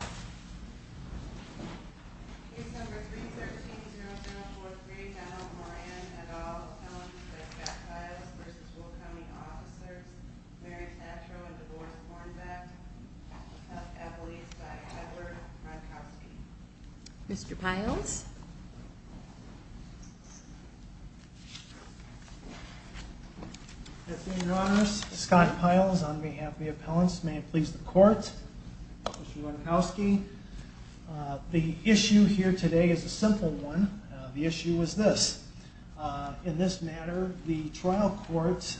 Case No. 313-0043, General Moran, et al., appellants by Scott Pyles v. Will County Officers, Mary Tatro and Devorce Hornbeck of Eppley's by Edward Ronkowski. Mr. Pyles? Thank you, Your Honors. Scott Pyles on behalf of the appellants. May it please the Court. Mr. Ronkowski. The issue here today is a simple one. The issue is this. In this matter, the trial court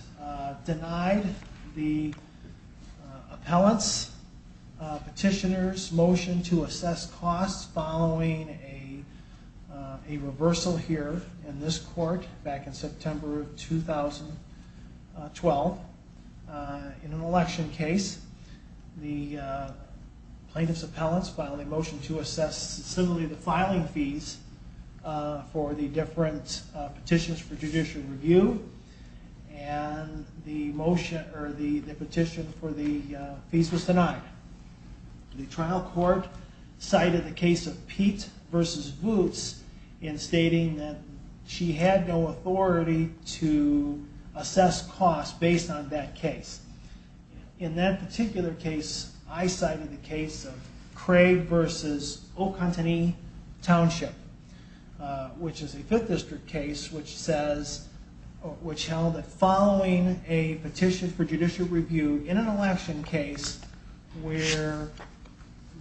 denied the appellants' petitioners' motion to assess costs following a reversal here in this court back in September of 2012. In an election case, the plaintiff's appellants filed a motion to assess similarly to filing fees for the different petitions for judicial review, and the petition for the fees was denied. The trial court cited the case of Pete v. Vootes in stating that she had no authority to assess costs based on that case. In that particular case, I cited the case of Craig v. Ocantanee Township, which is a 5th district case which held that following a petition for judicial review in an election case where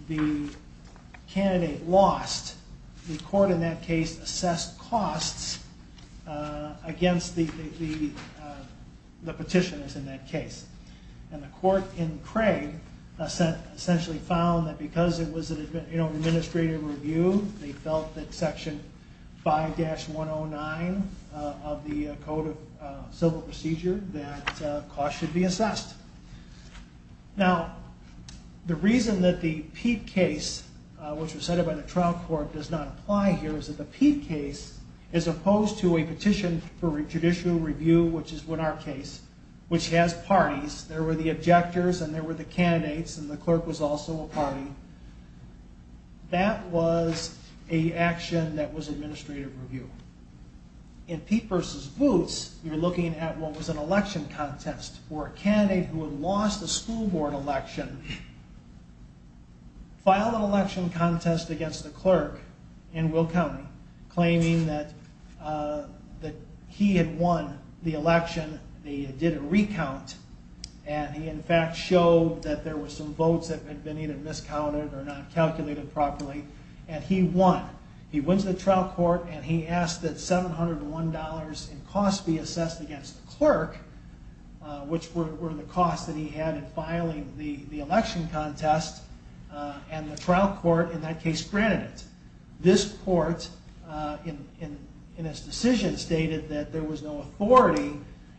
the candidate lost, the court in that case assessed costs against the petitioners in that case. And the court in Craig essentially found that because it was an administrative review, they felt that Section 5-109 of the Code of Civil Procedure that costs should be assessed. Now, the reason that the Pete case, which was cited by the trial court, does not apply here is that the Pete case, as opposed to a petition for judicial review, which is our case, which has parties, there were the objectors and there were the candidates and the clerk was also a party, that was an action that was administrative review. In Pete v. Vootes, you're looking at what was an election contest where a candidate who had lost a school board election filed an election contest against a clerk in Will County, claiming that he had won the election, they did a recount, and he in fact showed that there were some votes that had been either miscounted or not calculated properly, and he won. He wins the trial court and he asked that $701 in costs be assessed against the clerk, which were the costs that he had in filing the election contest, and the trial court in that case granted it. This court in its decision stated that there was no authority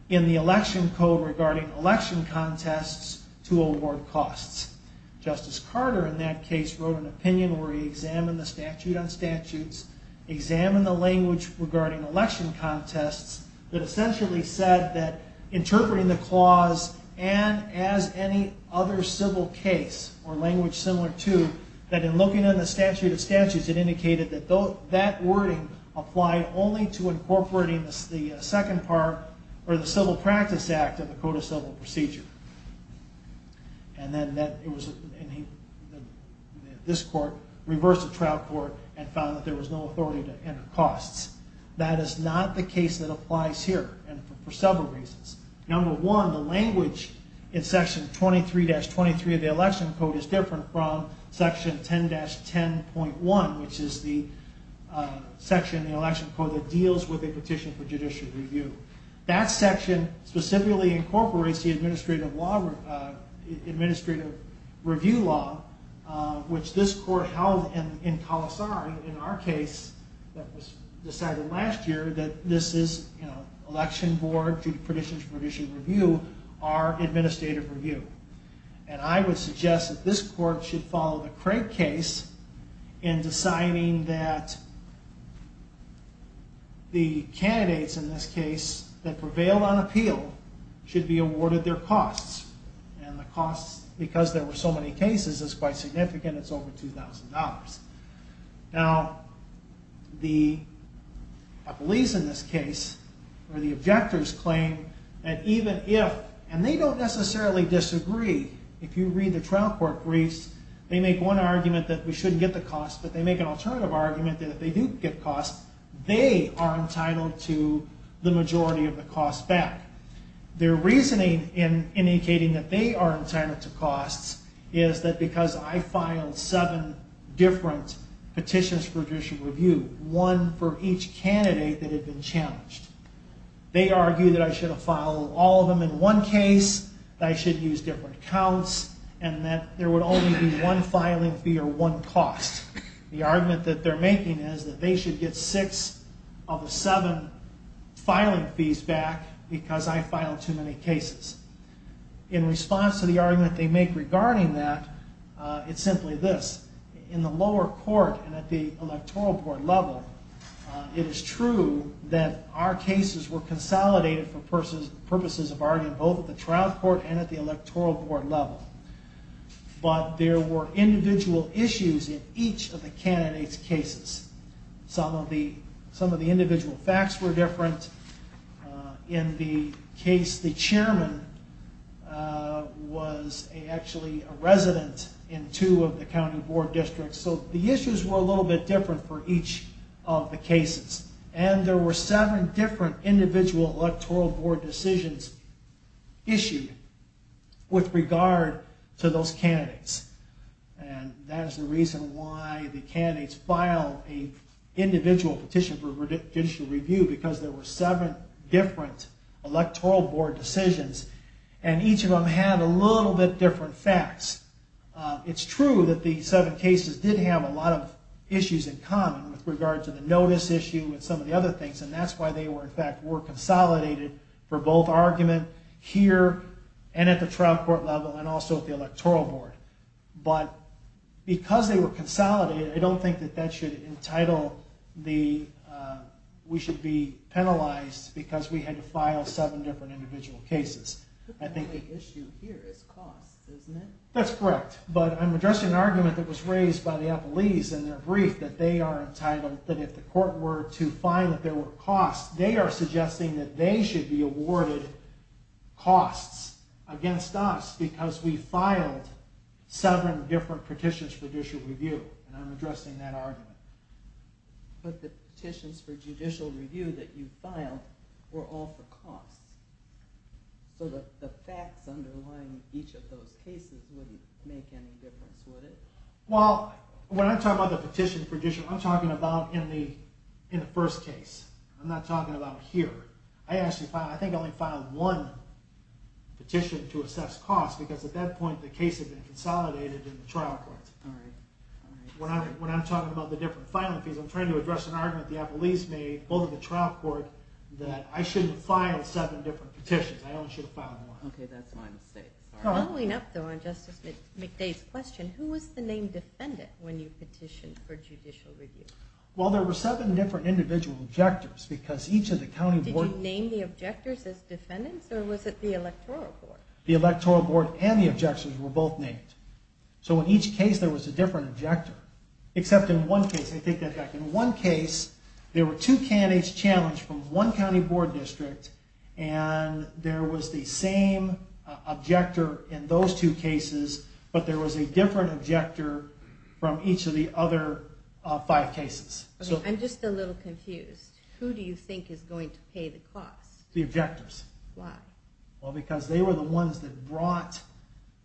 in the election code regarding election contests to award costs. Justice Carter in that case wrote an opinion where he examined the statute on statutes, examined the language regarding election contests, that essentially said that interpreting the clause and as any other civil case or language similar to, that in looking at the statute of statutes, it indicated that that wording applied only to incorporating the second part or the Civil Practice Act of the Code of Civil Procedure. And then this court reversed the trial court and found that there was no authority to enter costs. That is not the case that applies here, and for several reasons. Number one, the language in section 23-23 of the election code is different from section 10-10.1, which is the section in the election code that deals with a petition for judicial review. That section specifically incorporates the administrative review law, which this court held in Calasari, in our case, that was decided last year, that this is election board to petition for judicial review, our administrative review. And I would suggest that this court should follow the Craig case in deciding that the candidates in this case that prevailed on appeal should be awarded their costs, and the costs, because there were so many cases, is quite significant, it's over $2,000. Now, the police in this case, or the objectors claim that even if, and they don't necessarily disagree, if you read the trial court briefs, they make one argument that we shouldn't get the costs, but they make an alternative argument that if they do get costs, they are entitled to the majority of the costs back. Their reasoning in indicating that they are entitled to costs is that because I filed seven different petitions for judicial review, one for each candidate that had been challenged, they argue that I should have filed all of them in one case, that I should have used different accounts, and that there would only be one filing fee or one cost. The argument that they're making is that they should get six of the seven filing fees back because I filed too many cases. In response to the argument they make regarding that, it's simply this, in the lower court and at the electoral board level, it is true that our cases were consolidated for purposes of argument, both at the trial court and at the electoral board level. But there were individual issues in each of the candidates' cases. Some of the individual facts were different. In the case, the chairman was actually a resident in two of the county board districts, so the issues were a little bit different for each of the cases. And there were seven different individual electoral board decisions issued with regard to those candidates. And that is the reason why the candidates file an individual petition for judicial review, because there were seven different electoral board decisions, and each of them had a little bit different facts. It's true that the seven cases did have a lot of issues in common with regard to the notice issue and some of the other things, and that's why they were consolidated for both argument here and at the trial court level and also at the electoral board. But because they were consolidated, I don't think that that should entitle the, we should be penalized because we had to file seven different individual cases. The only issue here is cost, isn't it? That's correct. But I'm addressing an argument that was raised by the appellees in their brief that they are entitled, that if the court were to find that there were costs, they are suggesting that they should be awarded costs against us because we filed seven different petitions for judicial review. And I'm addressing that argument. But the petitions for judicial review that you filed were all for costs. So the facts underlying each of those cases wouldn't make any difference, would it? Well, when I'm talking about the petition for judicial review, I'm talking about in the first case. I'm not talking about here. I think I only filed one petition to assess costs because at that point the case had been consolidated in the trial court. When I'm talking about the different filing fees, I'm trying to address an argument the appellees made, both in the trial court, that I shouldn't file seven different petitions. I only should have filed one. Following up on Justice McDade's question, who was the named defendant when you petitioned for judicial review? Well, there were seven different individual objectors. Did you name the objectors as defendants or was it the electoral board? The electoral board and the objectors were both named. So in each case there was a different objector, except in one case there were two candidates challenged from one county board district and there was the same objector in those two cases, but there was a different objector from each of the other five cases. I'm just a little confused. Who do you think is going to pay the costs? The objectors. Why? Because they were the ones that brought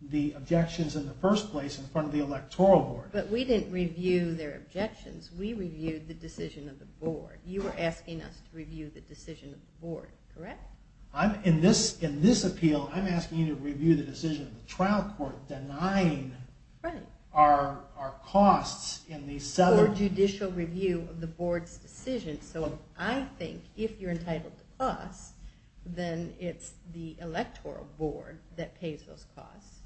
the objections in the first place in front of the electoral board. But we didn't review their objections. We reviewed the decision of the board. You were asking us to review the decision of the board, correct? In this appeal, I'm asking you to review the decision of the trial court denying our costs. For judicial review of the board's decision. So I think if you're entitled to us, then it's the electoral board that pays those costs.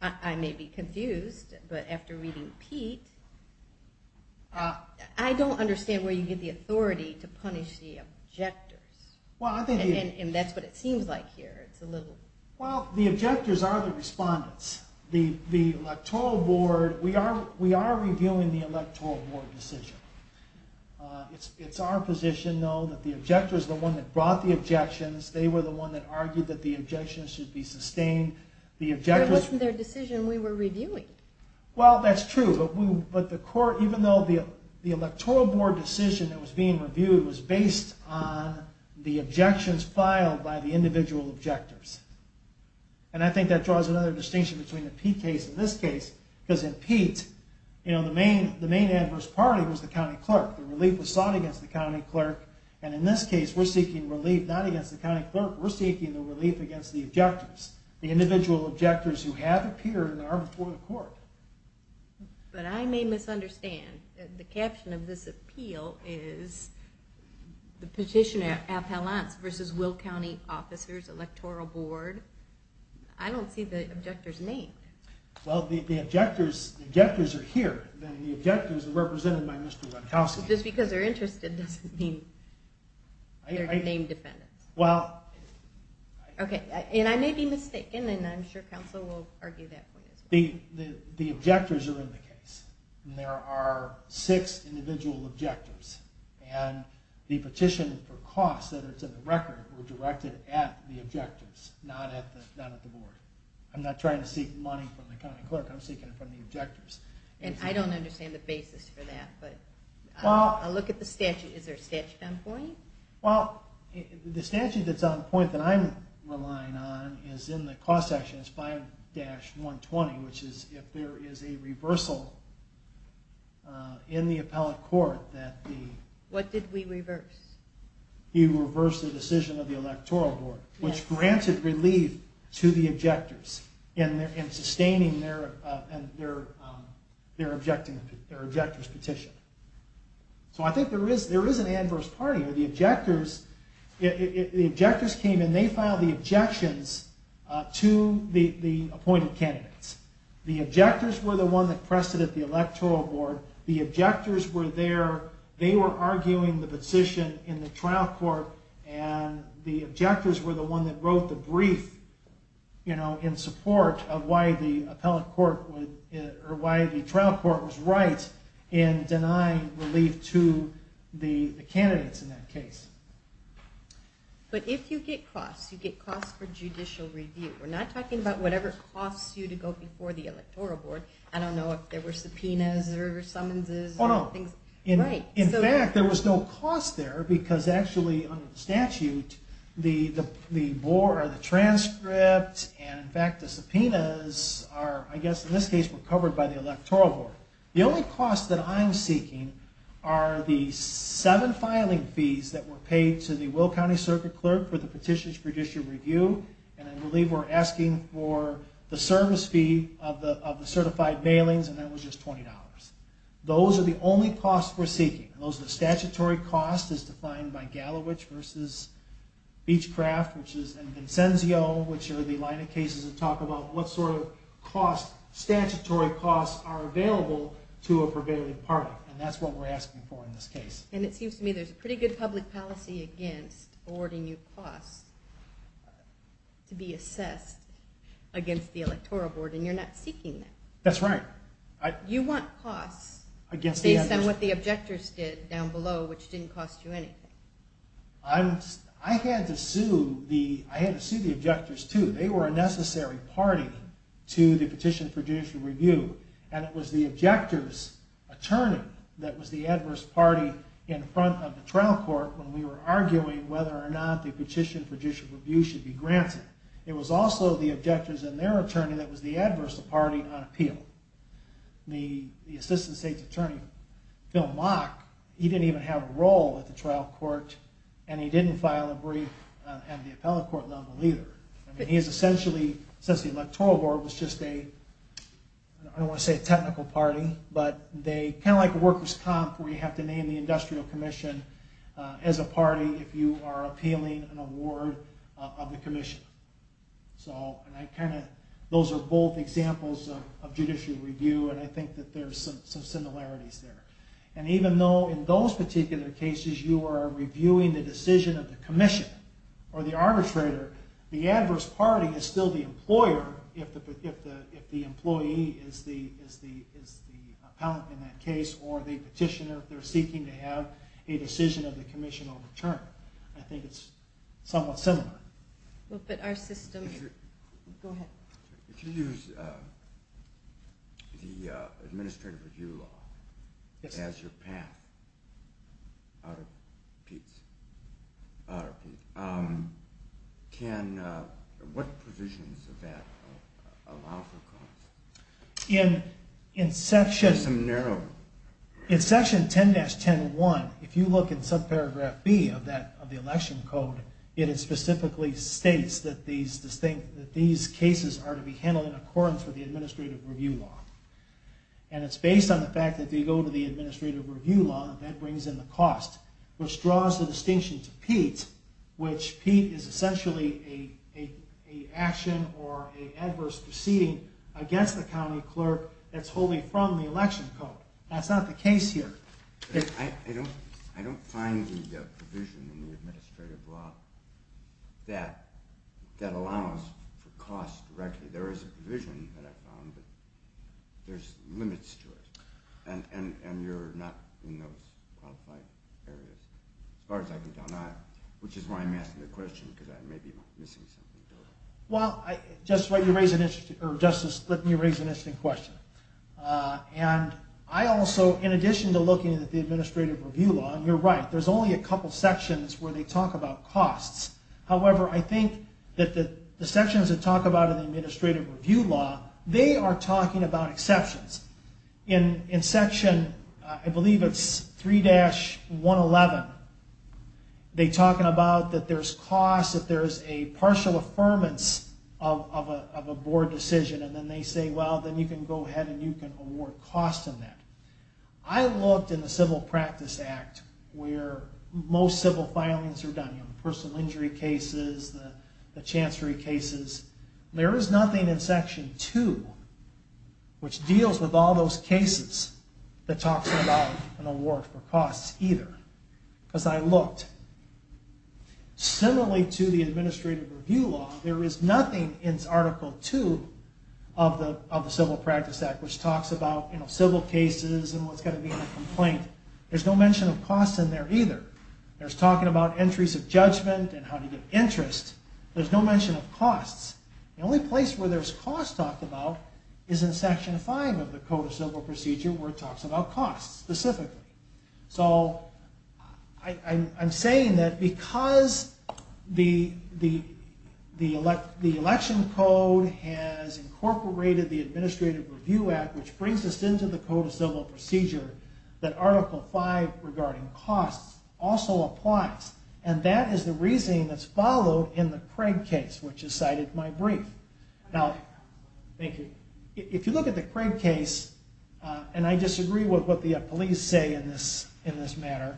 I may be confused, but after reading Pete, I don't understand where you get the authority to punish the objectors. And that's what it seems like here. Well, the objectors are the respondents. We are reviewing the electoral board decision. It's our position, though, that the objectors are the ones that brought the objections. They were the ones that argued that the objections should be sustained. But it wasn't their decision we were reviewing. Well, that's true. But even though the electoral board decision that was being reviewed was based on the objections filed by the individual objectors. And I think that draws another distinction between the Pete case and this case. Because in Pete, the main adverse party was the county clerk. The relief was sought against the county clerk. And in this case, we're seeking relief not against the county clerk. We're seeking the relief against the objectors. The individual objectors who have appeared in the arbitral court. But I may misunderstand. The caption of this appeal is the petitioner at Palaz versus Will County officers, electoral board. I don't see the objectors named. Well, the objectors are here. The objectors are represented by Mr. Ronkowski. Just because they're interested doesn't mean they're named defendants. And I may be mistaken, and I'm sure counsel will argue that point as well. The objectors are in the case. And there are six individual objectors. And the petition for costs, whether it's in the record, were directed at the objectors, not at the board. I'm not trying to seek money from the county clerk. I'm seeking it from the objectors. And I don't understand the basis for that. I'll look at the statute. Is there a statute on point? Well, the statute that's on point that I'm relying on is in the cost section. It's 5-120, which is if there is a reversal in the appellate court. What did we reverse? You reversed the decision of the electoral board, which granted relief to the objectors in sustaining their objector's petition. So I think there is an adverse party. The objectors came and they filed the objections to the appointed candidates. The objectors were the ones that pressed it at the electoral board. The objectors were there. They were arguing the petition in the trial court. And the objectors were the ones that wrote the brief in support of why the trial court was right. And denying relief to the candidates in that case. But if you get costs, you get costs for judicial review. We're not talking about whatever costs you to go before the electoral board. I don't know if there were subpoenas or summonses. In fact, there was no cost there because actually under the statute, the transcript and in fact the subpoenas, I guess in this case, were covered by the electoral board. The only costs that I'm seeking are the seven filing fees that were paid to the Will County Circuit Clerk for the petitions for judicial review. And I believe we're asking for the service fee of the certified mailings and that was just $20. Those are the only costs we're seeking. Those are the statutory costs as defined by Gallowich v. Beechcraft and Vincenzio, which are the line of cases that talk about what sort of statutory costs are available to a prevailing party. And that's what we're asking for in this case. And it seems to me there's a pretty good public policy against awarding you costs to be assessed against the electoral board and you're not seeking that. That's right. You want costs based on what the objectors did down below, which didn't cost you anything. I had to sue the objectors too. They were a necessary party to the petition for judicial review. And it was the objectors' attorney that was the adverse party in front of the trial court when we were arguing whether or not the petition for judicial review should be granted. It was also the objectors and their attorney that was the adverse party on appeal. The assistant state's attorney, Phil Mock, he didn't even have a role at the trial court and he didn't file a brief at the appellate court level either. Since the electoral board was just a, I don't want to say a technical party, but kind of like a workers' comp where you have to name the industrial commission as a party if you are appealing an award of the commission. Those are both examples of judicial review and I think that there's some similarities there. And even though in those particular cases you are reviewing the decision of the commission or the arbitrator, the adverse party is still the employer if the employee is the appellant in that case or the petitioner. They're seeking to have a decision of the commission overturned. I think it's somewhat similar. But our system... Go ahead. If you use the administrative review law as your path out of Pete's, what provisions of that allow for courts? In section 10-10-1, if you look in subparagraph B of the election code, it specifically states that these cases are to be handled in accordance with the administrative review law. And it's based on the fact that if you go to the administrative review law, that brings in the cost, which draws the distinction to Pete, which Pete is essentially an action or an adverse proceeding against the county clerk that's wholly from the election code. That's not the case here. I don't find the provision in the administrative law that allows for cost directly. There is a provision that I found, but there's limits to it. And you're not in those qualified areas. As far as I can tell, not. Which is why I'm asking the question, because I may be missing something. Well, Justice Lipton, you raise an interesting question. And I also, in addition to looking at the administrative review law, and you're right, there's only a couple sections where they talk about costs. However, I think that the sections that talk about in the administrative review law, they are talking about exceptions. In section, I believe it's 3-111, they're talking about that there's costs, that there's a partial affirmance of a board decision. And then they say, well, then you can go ahead and you can award costs in that. I looked in the Civil Practice Act, where most civil filings are done, personal injury cases, the chancery cases. There is nothing in section 2, which deals with all those cases, that talks about an award for costs either. Because I looked. Similarly to the administrative review law, there is nothing in article 2 of the Civil Practice Act, which talks about civil cases and what's going to be in a complaint. There's no mention of costs in there either. There's talking about entries of judgment and how to get interest. There's no mention of costs. The only place where there's costs talked about is in section 5 of the Code of Civil Procedure, where it talks about costs specifically. So I'm saying that because the election code has incorporated the Administrative Review Act, which brings us into the Code of Civil Procedure, that article 5 regarding costs also applies. And that is the reasoning that's followed in the Craig case, which is cited in my brief. Thank you. If you look at the Craig case, and I disagree with what the police say in this matter,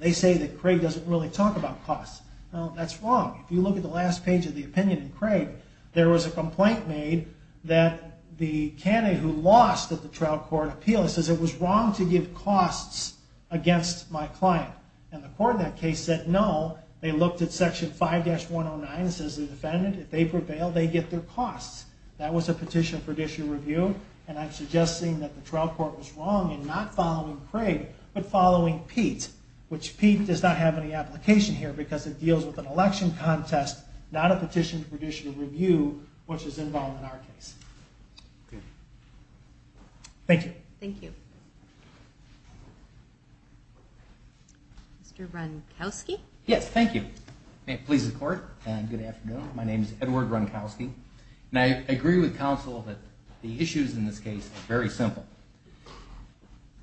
they say that Craig doesn't really talk about costs. Well, that's wrong. If you look at the last page of the opinion in Craig, there was a complaint made that the candidate who lost at the trial court appeal, it says it was wrong to give costs against my client. And the court in that case said no. They looked at section 5-109, says the defendant. If they prevail, they get their costs. That was a petition for judicial review. And I'm suggesting that the trial court was wrong in not following Craig, but following Pete, which Pete does not have any application here because it deals with an election contest, not a petition for judicial review, which is involved in our case. Thank you. Thank you. Mr. Ronkowski? Yes, thank you. It pleases the court. And good afternoon. My name is Edward Ronkowski. And I agree with counsel that the issues in this case are very simple.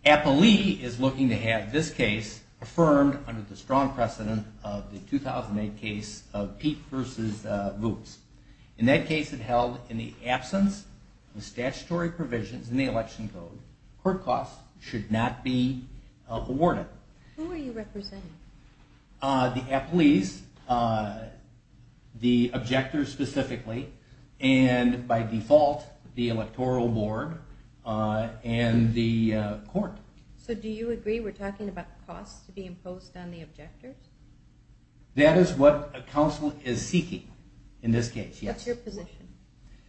Appalee is looking to have this case affirmed under the strong precedent of the 2008 case of Pete versus Voops. In that case, it held in the absence of statutory provisions in the election code, court costs should not be awarded. Who are you representing? The appalees, the objectors specifically, and by default, the electoral board and the court. So do you agree we're talking about costs to be imposed on the objectors? That is what counsel is seeking in this case, yes. What's your position?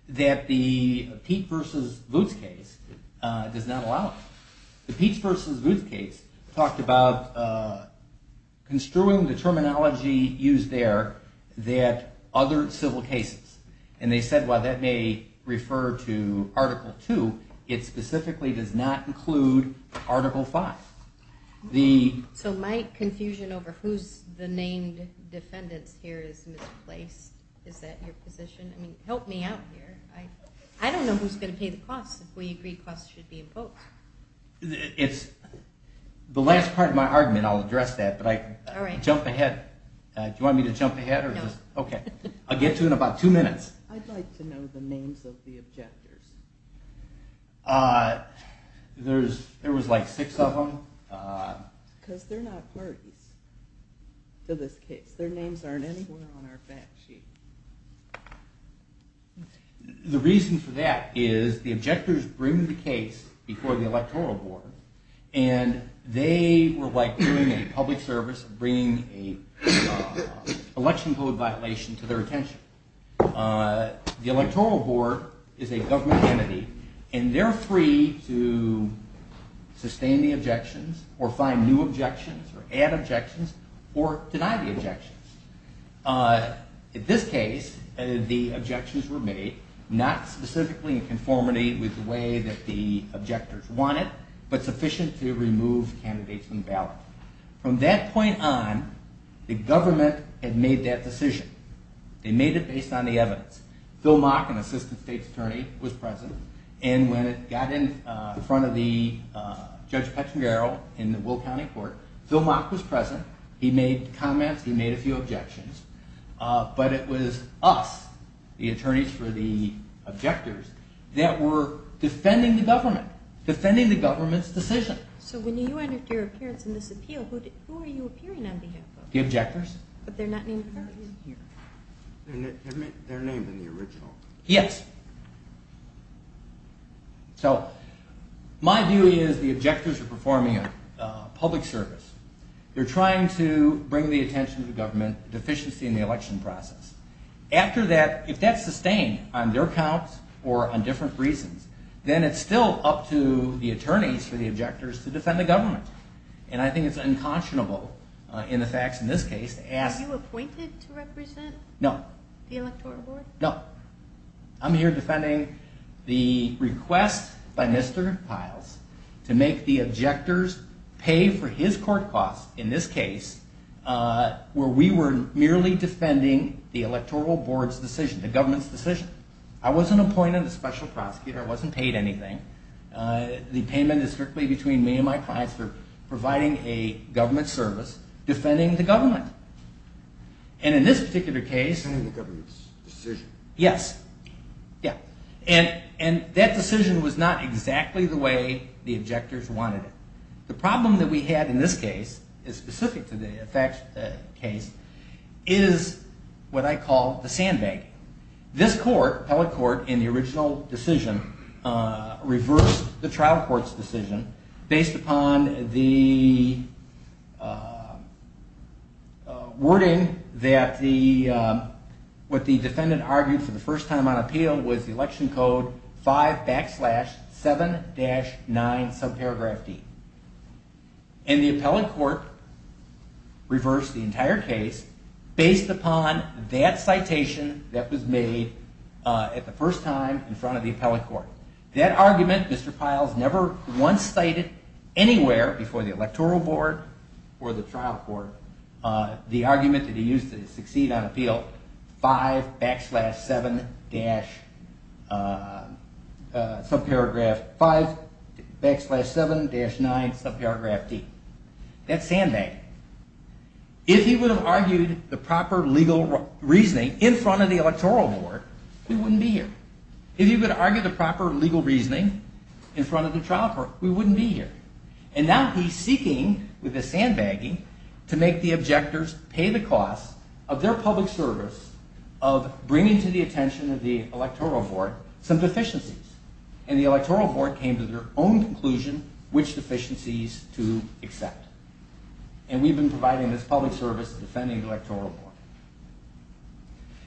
That the Pete versus Voops case does not allow it. The Pete versus Voops case talked about construing the terminology used there that other civil cases. And they said, well, that may refer to Article 2. It specifically does not include Article 5. So my confusion over who's the named defendants here is misplaced. Is that your position? I mean, help me out here. I don't know who's going to pay the costs if we agree costs should be imposed. It's the last part of my argument. I'll address that. But I jump ahead. Do you want me to jump ahead? No. OK. I'll get to it in about two minutes. I'd like to know the names of the objectors. There was like six of them. Because they're not parties to this case. Their names aren't anywhere on our fact sheet. The reason for that is the objectors bring the case before the electoral board. And they were like doing a public service of bringing an election code violation to their attention. The electoral board is a government entity. And they're free to sustain the objections or find new objections or add objections or deny the objections. In this case, the objections were made not specifically in conformity with the way that the objectors wanted, but sufficient to remove candidates from the ballot. From that point on, the government had made that decision. They made it based on the evidence. Phil Mock, an assistant state's attorney, was present. And when it got in front of Judge Petrangaro in the Will County Court, Phil Mock was present. He made comments. He made a few objections. But it was us, the attorneys for the objectors, that were defending the government, defending the government's decision. So when you entered your appearance in this appeal, who were you appearing on behalf of? The objectors. But they're not named parties? They're named in the original. Yes. So my view is the objectors are performing a public service. They're trying to bring the attention to government deficiency in the election process. After that, if that's sustained on their count or on different reasons, then it's still up to the attorneys for the objectors to defend the government. And I think it's unconscionable in the facts in this case to ask- No. No. I'm here defending the request by Mr. Piles to make the objectors pay for his court costs in this case where we were merely defending the Electoral Board's decision, the government's decision. I wasn't appointed a special prosecutor. I wasn't paid anything. The payment is strictly between me and my clients for providing a government service, defending the government. And in this particular case- Defending the government's decision. Yes. Yeah. And that decision was not exactly the way the objectors wanted it. The problem that we had in this case is specific to the effect case is what I call the sandbag. This court, appellate court, in the original decision reversed the trial court's decision based upon the wording that what the defendant argued for the first time on appeal was the election code 5 backslash 7-9 subparagraph D. And the appellate court reversed the entire case based upon that citation that was made at the first time in front of the appellate court. That argument, Mr. Piles never once cited anywhere before the Electoral Board or the trial court the argument that he used to succeed on appeal, 5 backslash 7-9 subparagraph D. That's sandbagging. If he would have argued the proper legal reasoning in front of the Electoral Board, we wouldn't be here. If he would argue the proper legal reasoning in front of the trial court, we wouldn't be here. And now he's seeking, with the sandbagging, to make the objectors pay the cost of their public service of bringing to the attention of the Electoral Board some deficiencies. And the Electoral Board came to their own conclusion which deficiencies to accept. And we've been providing this public service, defending the Electoral Board.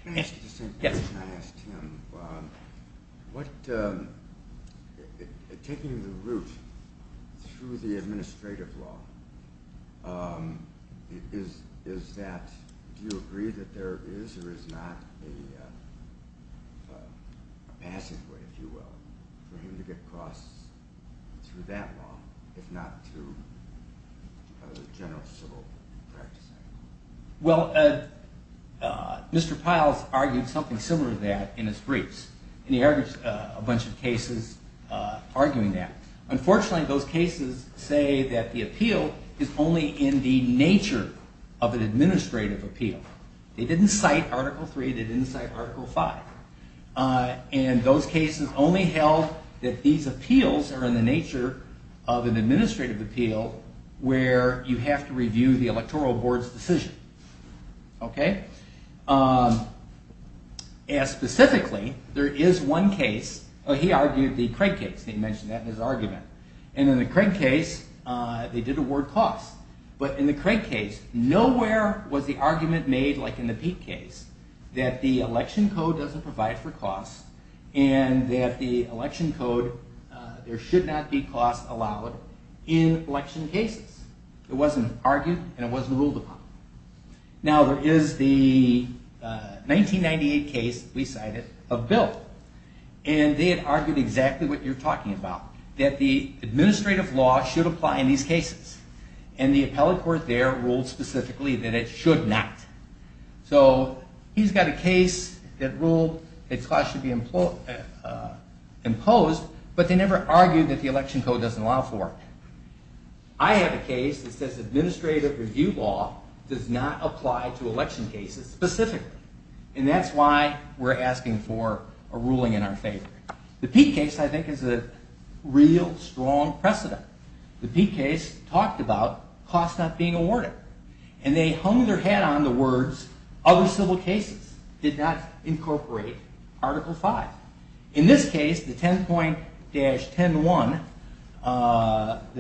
Let me ask you the same question I asked Tim. Taking the route through the administrative law, do you agree that there is or is not a passive way, if you will, for him to get across through that law, if not through general civil practice? Well, Mr. Piles argued something similar to that in his briefs. And he argues a bunch of cases arguing that. Unfortunately, those cases say that the appeal is only in the nature of an administrative appeal. They didn't cite Article 3. They didn't cite Article 5. And those cases only held that these appeals are in the nature of an administrative appeal where you have to review the Electoral Board's decision. Okay? And specifically, there is one case. He argued the Craig case. He mentioned that in his argument. And in the Craig case, they did award costs. But in the Craig case, nowhere was the argument made like in the Peete case that the election code doesn't provide for costs and that the election code, there should not be costs allowed in election cases. It wasn't argued and it wasn't ruled upon. Now, there is the 1998 case we cited of Bill. And they had argued exactly what you're talking about, that the administrative law should apply in these cases. And the appellate court there ruled specifically that it should not. So he's got a case that ruled that costs should be imposed, but they never argued that the election code doesn't allow for it. I have a case that says administrative review law does not apply to election cases specifically. And that's why we're asking for a ruling in our favor. The Peete case, I think, is a real strong precedent. The Peete case talked about costs not being awarded. And they hung their hat on the words, other civil cases did not incorporate Article 5. In this case, the 10.-10.1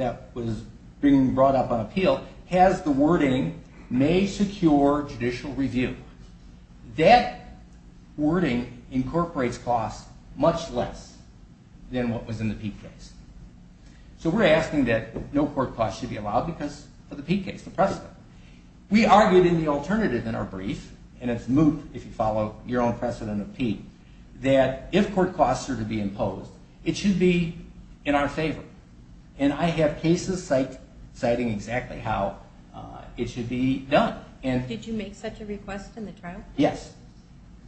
that was being brought up on appeal has the wording, may secure judicial review. That wording incorporates costs much less than what was in the Peete case. So we're asking that no court costs should be allowed because of the Peete case, the precedent. We argued in the alternative in our brief, and it's moot if you follow your own precedent of Peete, that if court costs are to be imposed, it should be in our favor. And I have cases citing exactly how it should be done. Did you make such a request in the trial? Yes.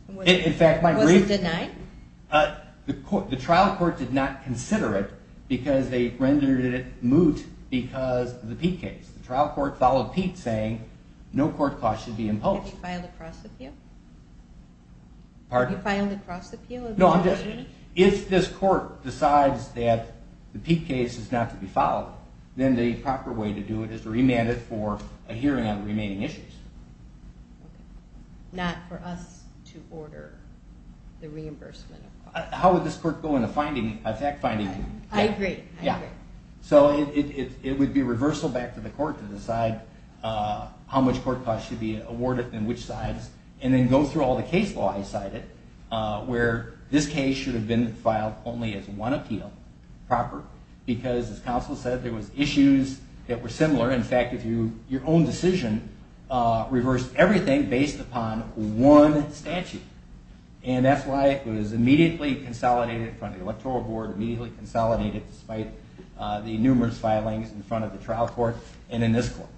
Was it denied? The trial court did not consider it because they rendered it moot because of the Peete case. The trial court followed Peete saying no court costs should be imposed. Have you filed a cross-appeal? Pardon? Have you filed a cross-appeal? No, I'm just, if this court decides that the Peete case is not to be followed, then the proper way to do it is to remand it for a hearing on the remaining issues. Okay. Not for us to order the reimbursement of costs. How would this court go in a fact finding? I agree. Yeah. So it would be reversal back to the court to decide how much court costs should be awarded and which sides, and then go through all the case law I cited, where this case should have been filed only as one appeal, proper, because as counsel said, there was issues that were similar. In fact, your own decision reversed everything based upon one statute, and that's why it was immediately consolidated in front of the electoral board, immediately consolidated despite the numerous filings in front of the trial court and in this court.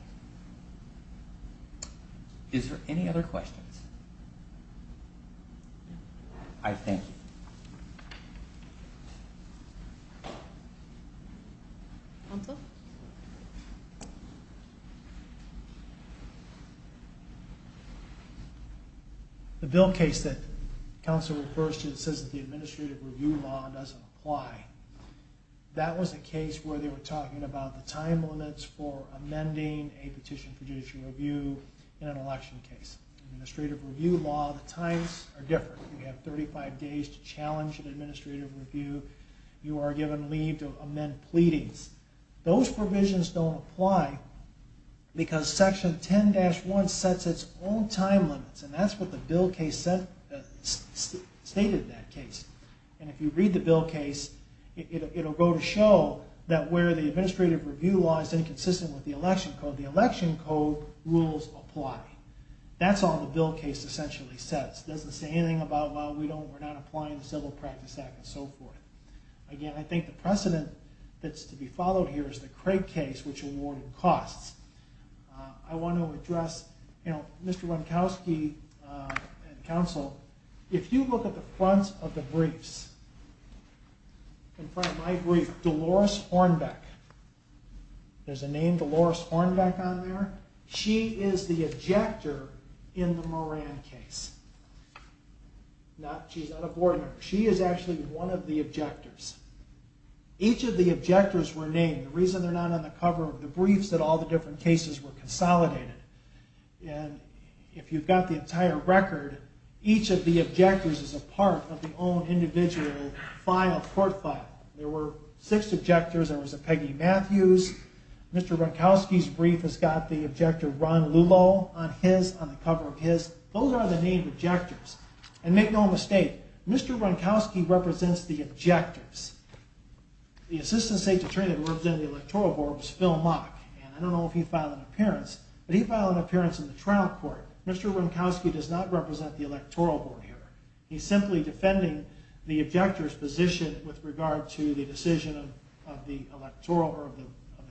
Is there any other questions? I thank you. Counsel? The bill case that counsel refers to, it says that the administrative review law doesn't apply. That was a case where they were talking about the time limits for amending a petition for judicial review in an election case. Administrative review law, the times are different. You have 35 days to challenge an administrative review. You are given leave to amend pleadings. Those provisions don't apply because section 10-1 sets its own time limits, and that's what the bill case stated in that case. And if you read the bill case, it will go to show that where the administrative review law is inconsistent with the election code, the election code rules apply. That's all the bill case essentially says. It doesn't say anything about, well, we're not applying the Civil Practice Act and so forth. Again, I think the precedent that's to be followed here is the Craig case, which awarded costs. I want to address, you know, Mr. Ronkowski and counsel, if you look at the front of the briefs, in front of my brief, Dolores Hornbeck. There's a name, Dolores Hornbeck, on there. She is the objector in the Moran case. She's not a board member. She is actually one of the objectors. Each of the objectors were named. The reason they're not on the cover of the briefs is that all the different cases were consolidated. And if you've got the entire record, each of the objectors is a part of the own individual court file. There were six objectors. There was a Peggy Matthews. Mr. Ronkowski's brief has got the objector Ron Lulow on his, on the cover of his. Those are the named objectors. And make no mistake, Mr. Ronkowski represents the objectors. The assistant state attorney that represented the electoral board was Phil Mock. And I don't know if he filed an appearance, but he filed an appearance in the trial court. Mr. Ronkowski does not represent the electoral board here. He's simply defending the objector's position with regard to the decision of the electoral, or of the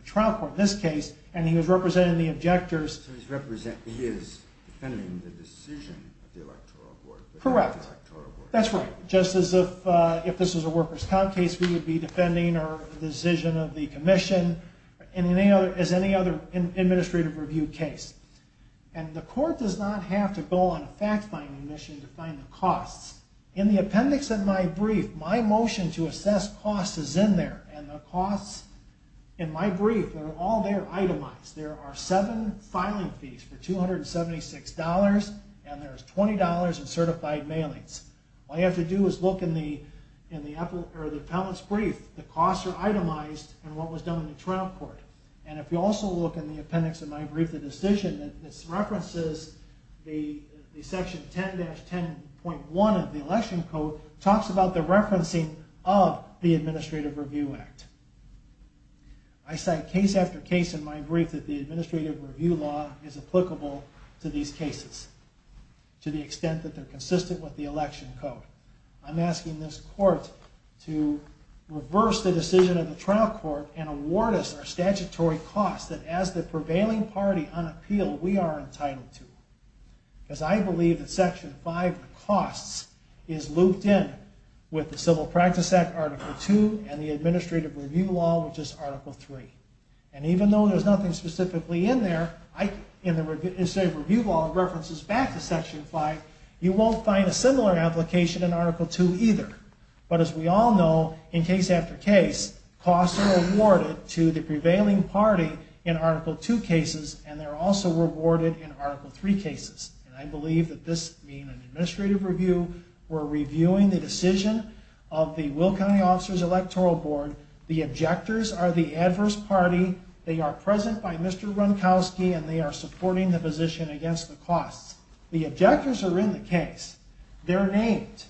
trial court in this case. And he was representing the objectors. So he's representing, he is defending the decision of the electoral board. Correct. Not the electoral board. That's right. Just as if this was a workers' comp case, we would be defending the decision of the commission, as any other administrative review case. And the court does not have to go on a fact-finding mission to find the costs. In the appendix of my brief, my motion to assess costs is in there. And the costs in my brief, they're all there itemized. There are seven filing fees for $276, and there's $20 in certified mailings. All you have to do is look in the appellant's brief. The costs are itemized in what was done in the trial court. And if you also look in the appendix of my brief, the decision, this references the section 10-10.1 of the election code, talks about the referencing of the Administrative Review Act. I cite case after case in my brief that the administrative review law is applicable to these cases, to the extent that they're consistent with the election code. I'm asking this court to reverse the decision of the trial court and award us our statutory costs that, as the prevailing party on appeal, we are entitled to. Because I believe that Section 5 of the costs is looped in with the Civil Practice Act, Article 2, and the Administrative Review Law, which is Article 3. And even though there's nothing specifically in there, in the Administrative Review Law, it references back to Section 5, you won't find a similar application in Article 2 either. But as we all know, in case after case, costs are awarded to the prevailing party in Article 2 cases, and they're also rewarded in Article 3 cases. And I believe that this being an administrative review, we're reviewing the decision of the Will County Officers Electoral Board. The objectors are the adverse party. They are present by Mr. Ronkowski, and they are supporting the position against the costs. The objectors are in the case. They're named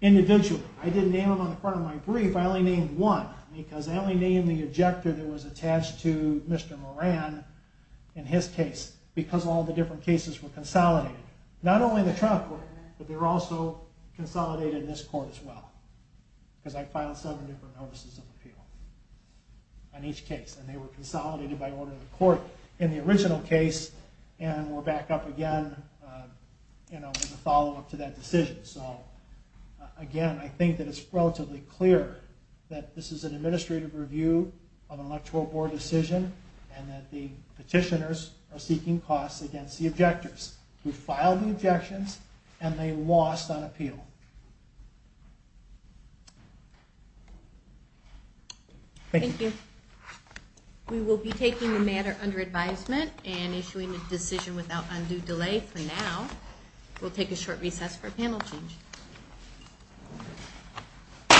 individually. I didn't name them on the front of my brief. I only named one because I only named the objector that was attached to Mr. Moran in his case because all the different cases were consolidated. Not only the trial court, but they were also consolidated in this court as well because I filed seven different notices of appeal on each case, and they were consolidated by order of the court in the original case and were back up again as a follow-up to that decision. So again, I think that it's relatively clear that this is an administrative review of an electoral board decision and that the petitioners are seeking costs against the objectors who filed the objections and they lost on appeal. Thank you. We will be taking the matter under advisement and issuing a decision without undue delay for now. We'll take a short recess for a panel change.